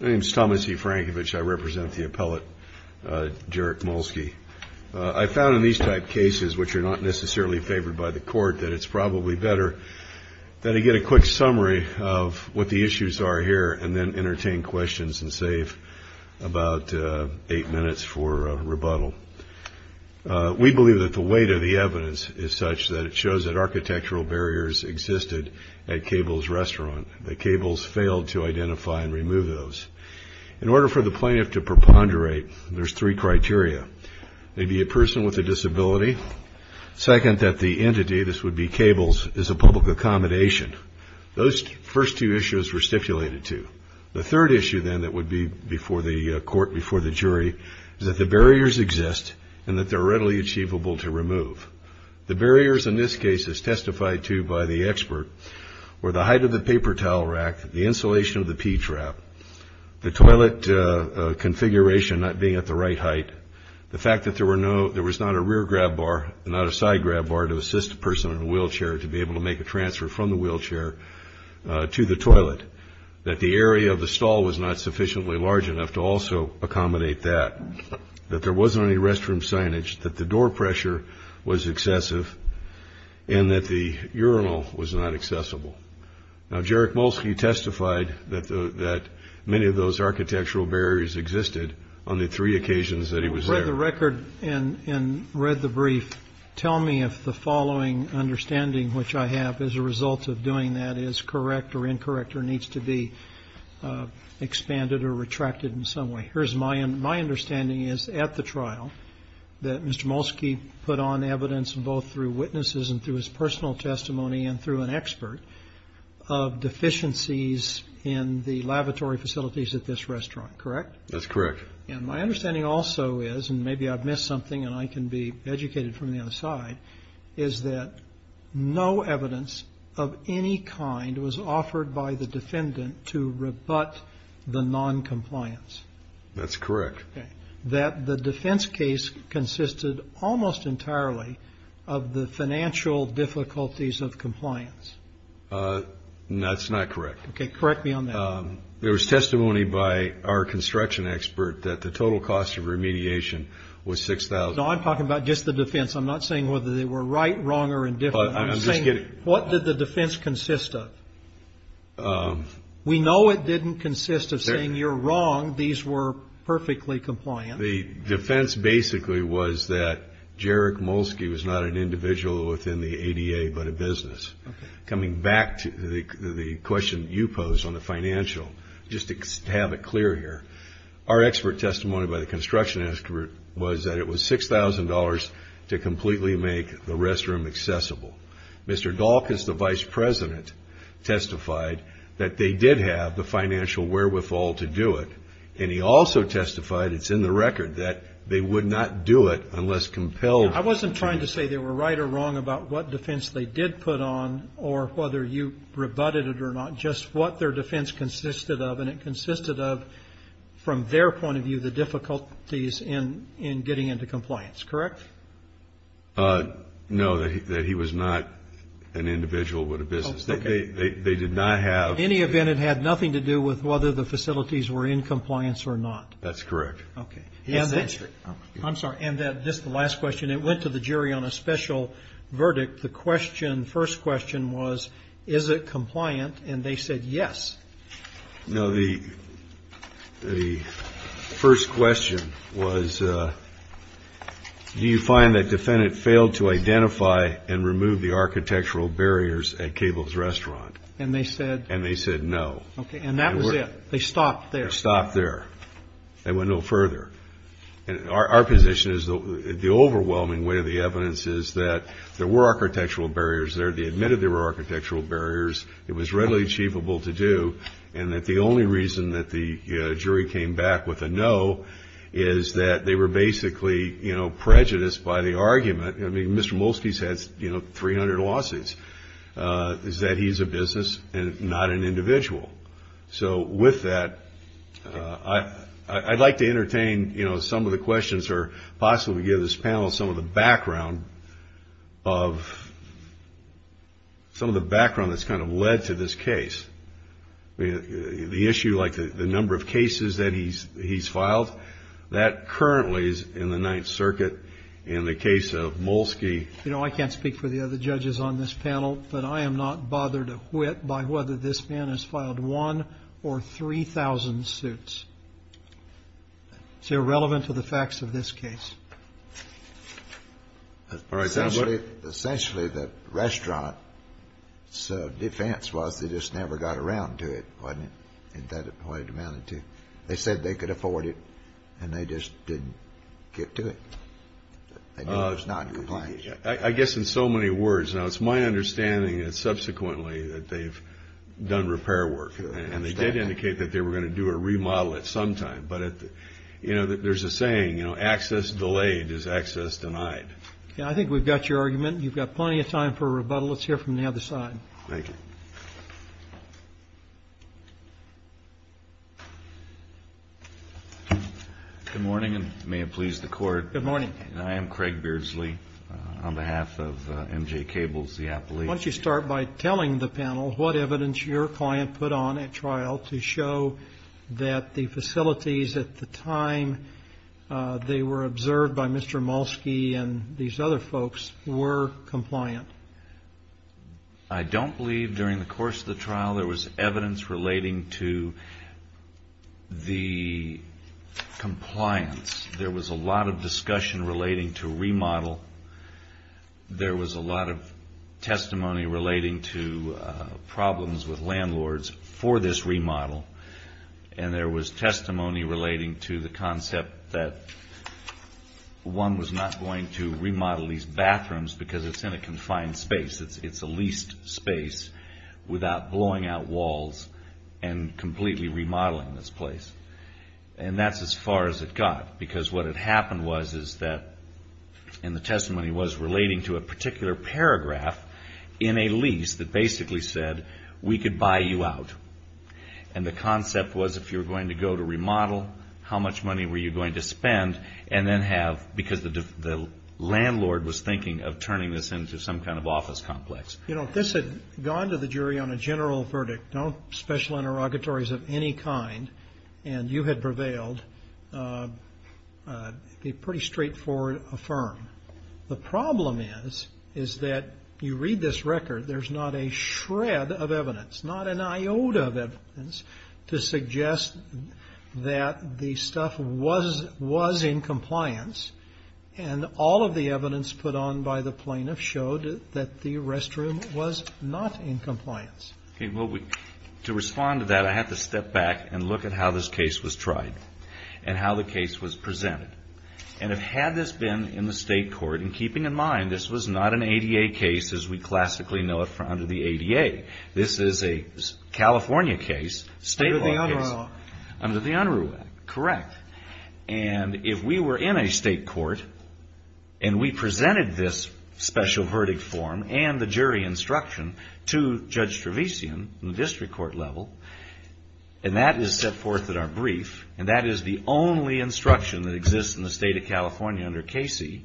My name is Thomas E. Frankovich. I represent the appellate, Jarek Molski. I found in these type cases, which are not necessarily favored by the court, that it's probably better that I get a quick summary of what the issues are here and then entertain questions and save about eight minutes for rebuttal. We believe that the weight of the evidence is such that it shows that architectural barriers existed at Cable's restaurant, that Cable's failed to identify and remove those. In order for the plaintiff to preponderate, there's three criteria. They'd be a person with a disability. Second, that the entity, this would be Cable's, is a public accommodation. Those first two issues were stipulated to. The third issue then that would be before the court, before the jury, is that the barriers exist and that they're readily achievable to remove. The barriers in this case, as testified to by the expert, were the height of the paper towel rack, the insulation of the pee trap, the toilet configuration not being at the right height, the fact that there was not a rear grab bar and not a side grab bar to assist a person in a wheelchair to be able to make a transfer from the wheelchair to the toilet, that the area of the stall was not sufficiently large enough to also accommodate that, that there wasn't any restroom signage, that the door pressure was excessive, and that the urinal was not accessible. Now, Jarek Molsky testified that many of those architectural barriers existed on the three occasions that he was there. Well, I've read the record and read the brief. Tell me if the following understanding which I have as a result of doing that is correct or incorrect or needs to be expanded or retracted in some way. My understanding is at the trial that Mr. Molsky put on evidence both through witnesses and through his personal testimony and through an expert of deficiencies in the lavatory facilities at this restaurant, correct? That's correct. And my understanding also is, and maybe I've missed something and I can be educated from the other side, is that no evidence of any kind was offered by the defendant to rebut the noncompliance. That's correct. That the defense case consisted almost entirely of the financial difficulties of compliance. That's not correct. Okay, correct me on that. There was testimony by our construction expert that the total cost of remediation was $6,000. No, I'm talking about just the defense. I'm not saying whether they were right, wrong, or indifferent. I'm saying what did the defense consist of? We know it didn't consist of saying you're wrong. These were perfectly compliant. The defense basically was that Jerick Molsky was not an individual within the ADA but a business. Coming back to the question you posed on the financial, just to have it clear here, our expert testimony by the construction expert was that it was $6,000 to completely make the restroom accessible. Mr. Dahlkos, the vice president, testified that they did have the financial wherewithal to do it. And he also testified, it's in the record, that they would not do it unless compelled. I wasn't trying to say they were right or wrong about what defense they did put on or whether you rebutted it or not, just what their defense consisted of. And it consisted of, from their point of view, the difficulties in getting into compliance. Correct? No, that he was not an individual with a business. They did not have... In any event, it had nothing to do with whether the facilities were in compliance or not. That's correct. Okay. I'm sorry. And just the last question. It went to the jury on a special verdict. The question, first question was, is it compliant? And they said, yes. No, the first question was, do you find that defendant failed to identify and remove the architectural barriers at Cable's Restaurant? And they said... And they said, no. Okay. And that was it. They stopped there. They stopped there. They went no further. And our position is the overwhelming weight of the evidence is that there were architectural barriers there. They admitted there were architectural barriers. It was readily achievable to do. And that the only reason that the jury came back with a no is that they were basically, you know, prejudiced by the argument. I mean, Mr. Molsky has, you know, 300 lawsuits. Is that he's a business and not an individual? So with that, I'd like to entertain, you know, some of the questions or possibly give this panel some of the background of, some of the background that's kind of led to this case. I mean, the issue like the number of cases that he's filed, that currently is in the Ninth Circuit in the case of Molsky. You know, I can't speak for the other judges on this panel, but I am not bothered a whit by whether this man has filed one or 3,000 suits. It's irrelevant to the facts of this case. All right, Senator. Essentially, the restaurant's defense was they just never got around to it, wasn't it? Isn't that what it amounted to? They said they could afford it, and they just didn't get to it. It was not compliant. I guess in so many words. Now, it's my understanding that subsequently that they've done repair work, and they did indicate that they were going to do a remodel at some time. But, you know, access delayed is access denied. Yeah, I think we've got your argument. You've got plenty of time for rebuttal. Let's hear from the other side. Thank you. Good morning, and may it please the Court. Good morning. I am Craig Beardsley on behalf of MJ Cables, the appellate. Why don't you start by telling the panel what evidence your client put on at trial to show that the facilities at the time they were observed by Mr. Molsky and these other folks were compliant? I don't believe during the course of the trial there was evidence relating to the compliance. There was a lot of discussion relating to remodel. There was a lot of testimony relating to problems with landlords for this remodel. And there was testimony relating to the concept that one was not going to remodel these bathrooms because it's in a confined space. It's a leased space without blowing out walls and completely remodeling this place. And that's as far as it got, because what had happened was is that, and the testimony was relating to a particular paragraph in a lease that basically said, we could buy you out. And the concept was if you were going to go to remodel, how much money were you going to spend, and then have, because the landlord was thinking of turning this into some kind of office complex. You know, if this had gone to the jury on a general verdict, no special interrogatories of any kind, and you had prevailed, it would be a pretty straightforward affirm. The problem is, is that you read this record, there's not a shred of evidence, not an iota of evidence to suggest that the stuff was in compliance. And all of the evidence put on by the plaintiff showed that the restroom was not in compliance. To respond to that, I have to step back and look at how this case was tried and how the case has been in the state court. And keeping in mind, this was not an ADA case as we classically know it under the ADA. This is a California case, state law case. Under the Unruh Act. Under the Unruh Act, correct. And if we were in a state court, and we presented this special verdict form and the jury instruction to Judge Trevisian in the district court level, and that is set forth in our brief, and that is the only instruction that exists in the state of California under KC,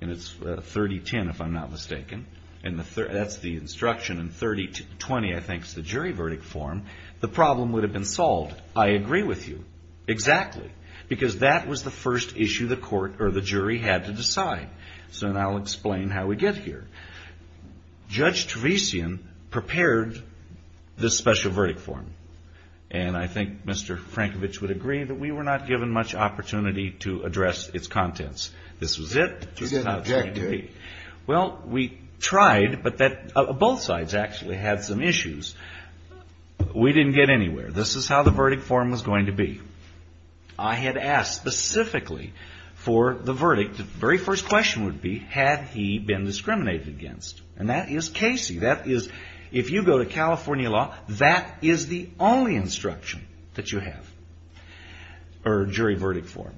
and it's 3010 if I'm not mistaken, and that's the instruction and 3020 I think is the jury verdict form, the problem would have been solved. I agree with you. Exactly. Because that was the first issue the court or the jury had to decide. So now I'll explain how we get here. Judge Trevisian prepared this special verdict form. And I think Mr. Frankovich would agree that we were not given much opportunity to address its contents. This was it. This is how it's going to be. Well, we tried, but both sides actually had some issues. We didn't get anywhere. This is how the verdict form was going to be. I had asked specifically for the verdict, the very first question would be, had he been discriminated against? And that is KC. That is the only instruction that you have, or jury verdict form.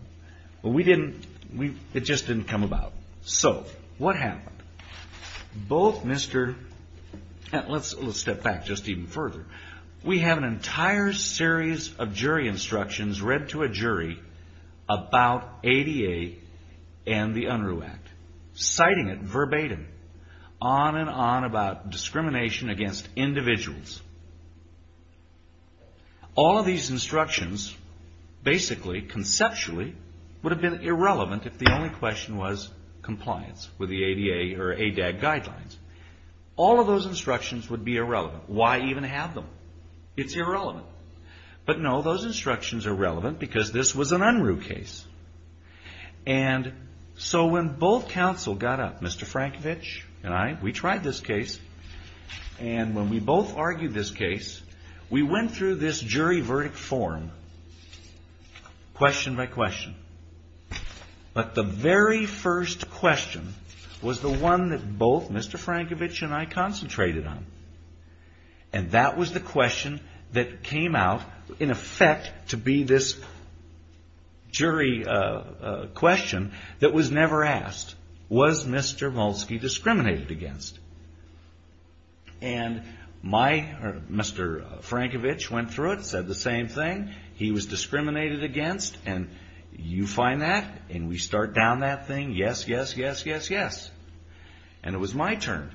It just didn't come about. So what happened? Let's step back just even further. We have an entire series of jury instructions read to a jury about ADA and the UNRU Act, citing it verbatim, on and on about discrimination against individuals. All of these instructions basically, conceptually, would have been irrelevant if the only question was compliance with the ADA or ADAG guidelines. All of those instructions would be irrelevant. Why even have them? It's irrelevant. But no, those instructions are relevant because this was an UNRU case. And so when both counsel got up, Mr. Frankovich and I, we tried this case. And when we both argued this case, we went through this jury verdict form, question by question. But the very first question was the one that both Mr. Frankovich and I concentrated on. And that was the question that came out in effect to be this jury question that was never asked. Was Mr. Molsky discriminated against? And Mr. Frankovich went through it, said the same thing. He was discriminated against. And you find that, and we start down that thing. Yes, yes, yes, yes, yes. And it was my turn.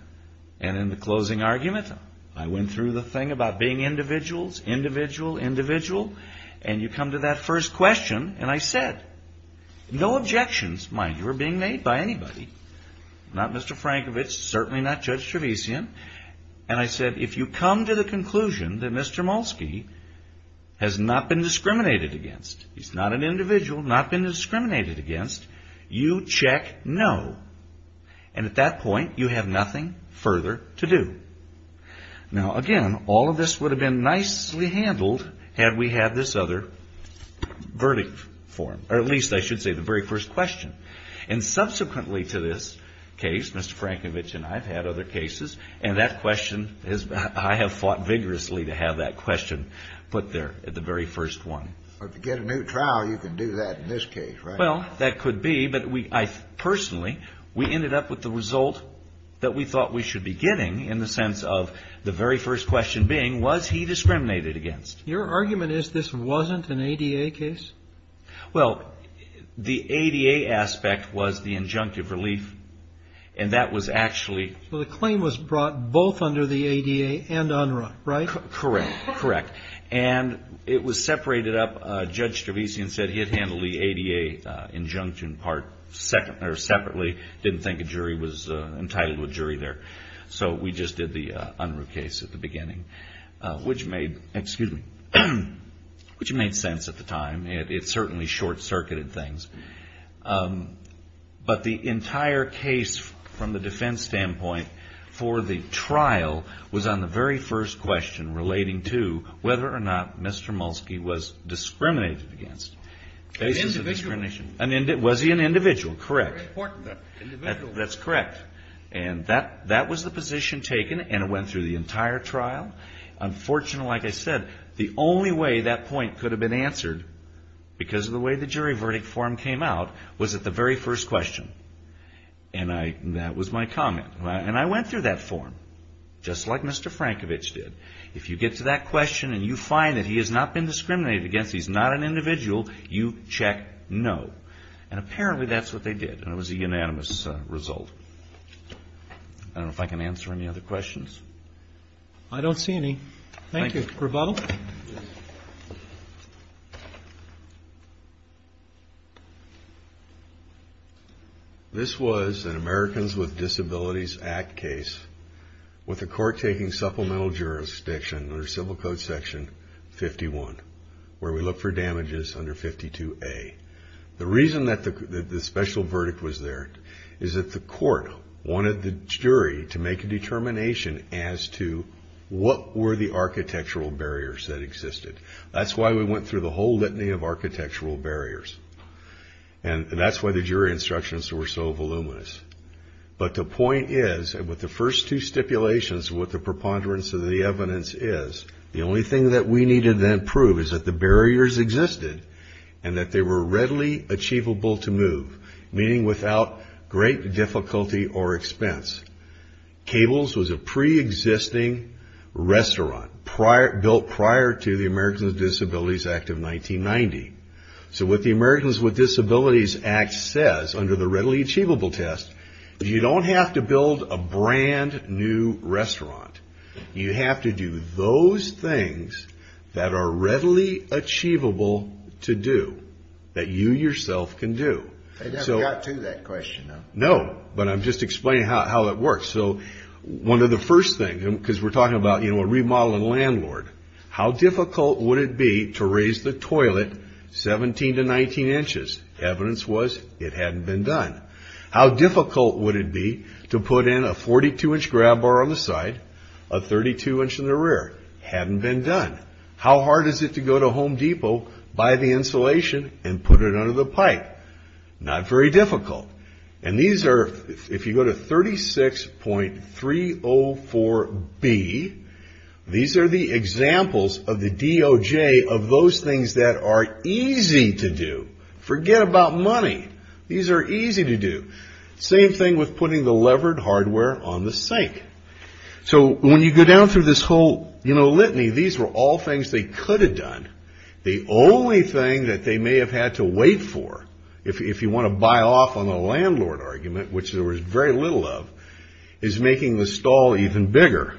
And in the closing argument, I went through the thing about being individuals, individual, individual. And you come to that first question. And I said, no objections, mind you, are being made by anybody. Not Mr. Frankovich, certainly not Judge Trevisian. And I said, if you come to the conclusion that Mr. Molsky has not been discriminated against, he's not an individual, not been discriminated against, you check no. And at that point, you have nothing further to do. Now, again, all of this would have been nicely handled had we had this other verdict form, or at least I should say the very first question. And subsequently to this case, Mr. Frankovich and I have had other cases. And that question, I have fought vigorously to have that question put there at the very first one. But to get a new trial, you can do that in this case, right? Well, that could be. But I personally, we ended up with the result that we thought we should be getting in the sense of the very first question being, was he discriminated against? Your argument is this wasn't an ADA case? Well, the ADA aspect was the injunctive relief. And that was actually So the claim was brought both under the ADA and UNRRA, right? Correct. Correct. And it was separated up. Judge Stravesian said he had handled the ADA injunction part separately, didn't think a jury was entitled to a jury there. So we just did the UNRRA case at the beginning, which made sense at the time. It certainly short-circuited things. But the entire case from the defense standpoint for the trial was on the very first question relating to whether or not Mr. Mulski was discriminated against. Was he an individual? Was he an individual? Correct. That's correct. And that was the position taken, and it went through the entire trial. Unfortunately, like I said, the only way that point could have been answered, because of the way the jury verdict form came out, was at the very first question. And that was my form, just like Mr. Frankovich did. If you get to that question, and you find that he has not been discriminated against, he's not an individual, you check no. And apparently that's what they did, and it was a unanimous result. I don't know if I can answer any other questions. I don't see any. Thank you. Rebuttal? This was an Americans with Disabilities Act case with the court taking supplemental jurisdiction under Civil Code Section 51, where we look for damages under 52A. The reason that the special verdict was there is that the court wanted the jury to make a determination as to what were the architectural barriers that existed. That's why we went through the whole litany of architectural barriers. And that's why the jury instructions were so voluminous. But the point is, with the first two stipulations, what the preponderance of the evidence is, the only thing that we needed to prove is that the barriers existed, and that they were readily achievable to move, meaning without great difficulty or expense. Cables was approved as a preexisting restaurant built prior to the Americans with Disabilities Act of 1990. So what the Americans with Disabilities Act says under the readily achievable test, you don't have to build a brand new restaurant. You have to do those things that are readily achievable to do, that you yourself can do. They haven't got to that question, though. No, but I'm just explaining how it works. One of the first things, because we're talking about a remodeling landlord, how difficult would it be to raise the toilet 17 to 19 inches? Evidence was it hadn't been done. How difficult would it be to put in a 42-inch grab bar on the side, a 32-inch in the rear? Hadn't been done. How hard is it to go to Home Depot, buy the insulation, and put it under the pipe? Not very difficult. And these are, if you go to 36.304B, these are the examples of the DOJ of those things that are easy to do. Forget about money. These are easy to do. Same thing with putting the levered hardware on the sink. So when you go down through this whole litany, these were all things they could have done. The only thing that they may have had to wait for, if you want to buy off on the landlord argument, which there was very little of, is making the stall even bigger.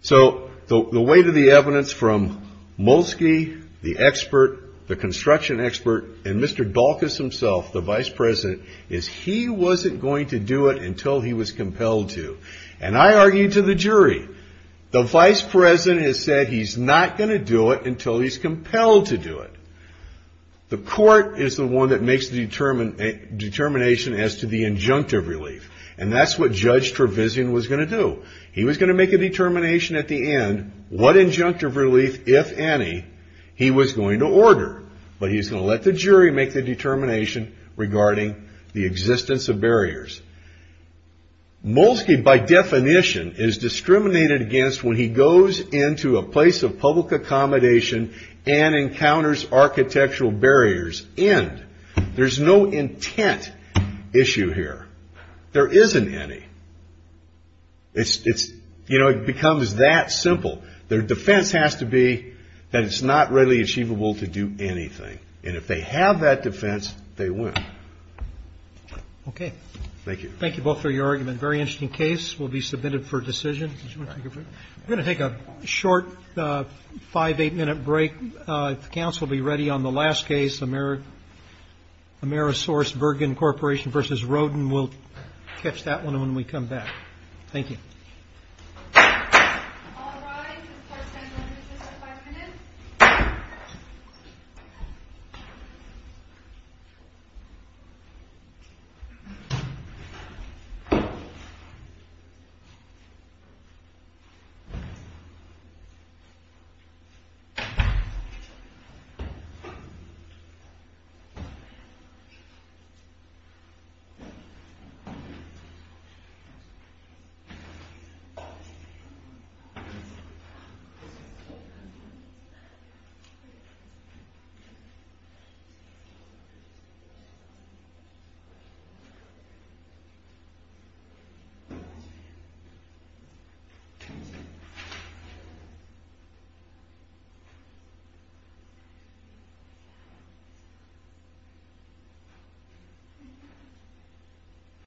So the weight of the evidence from Molsky, the expert, the construction expert, and Mr. Dalkus himself, the Vice President, is he wasn't going to do it until he was compelled to. And I argued to the jury, the Vice President has said he's not going to do it until he's compelled to do it. The court is the one that makes the determination as to the injunctive relief. And that's what Judge Trevisan was going to do. He was going to make a determination at the end, what injunctive relief, if any, he was going to order. But he's going to let the jury make the determination regarding the existence of barriers. Molsky, by definition, is discriminated against when he goes into a place of public accommodation and encounters architectural barriers. End. There's no intent issue here. There isn't any. It becomes that simple. Their defense has to be that it's not readily achievable to do anything. And if they have that defense, they win. Thank you both for your argument. Very interesting case. We'll be submitted for decision. We're going to take a short five, eight minute break. If the counsel will be ready on the last case, Amerisource Bergen Corporation v. Roden. We'll catch that one when we come back. Thank you. Thank you. Thank you.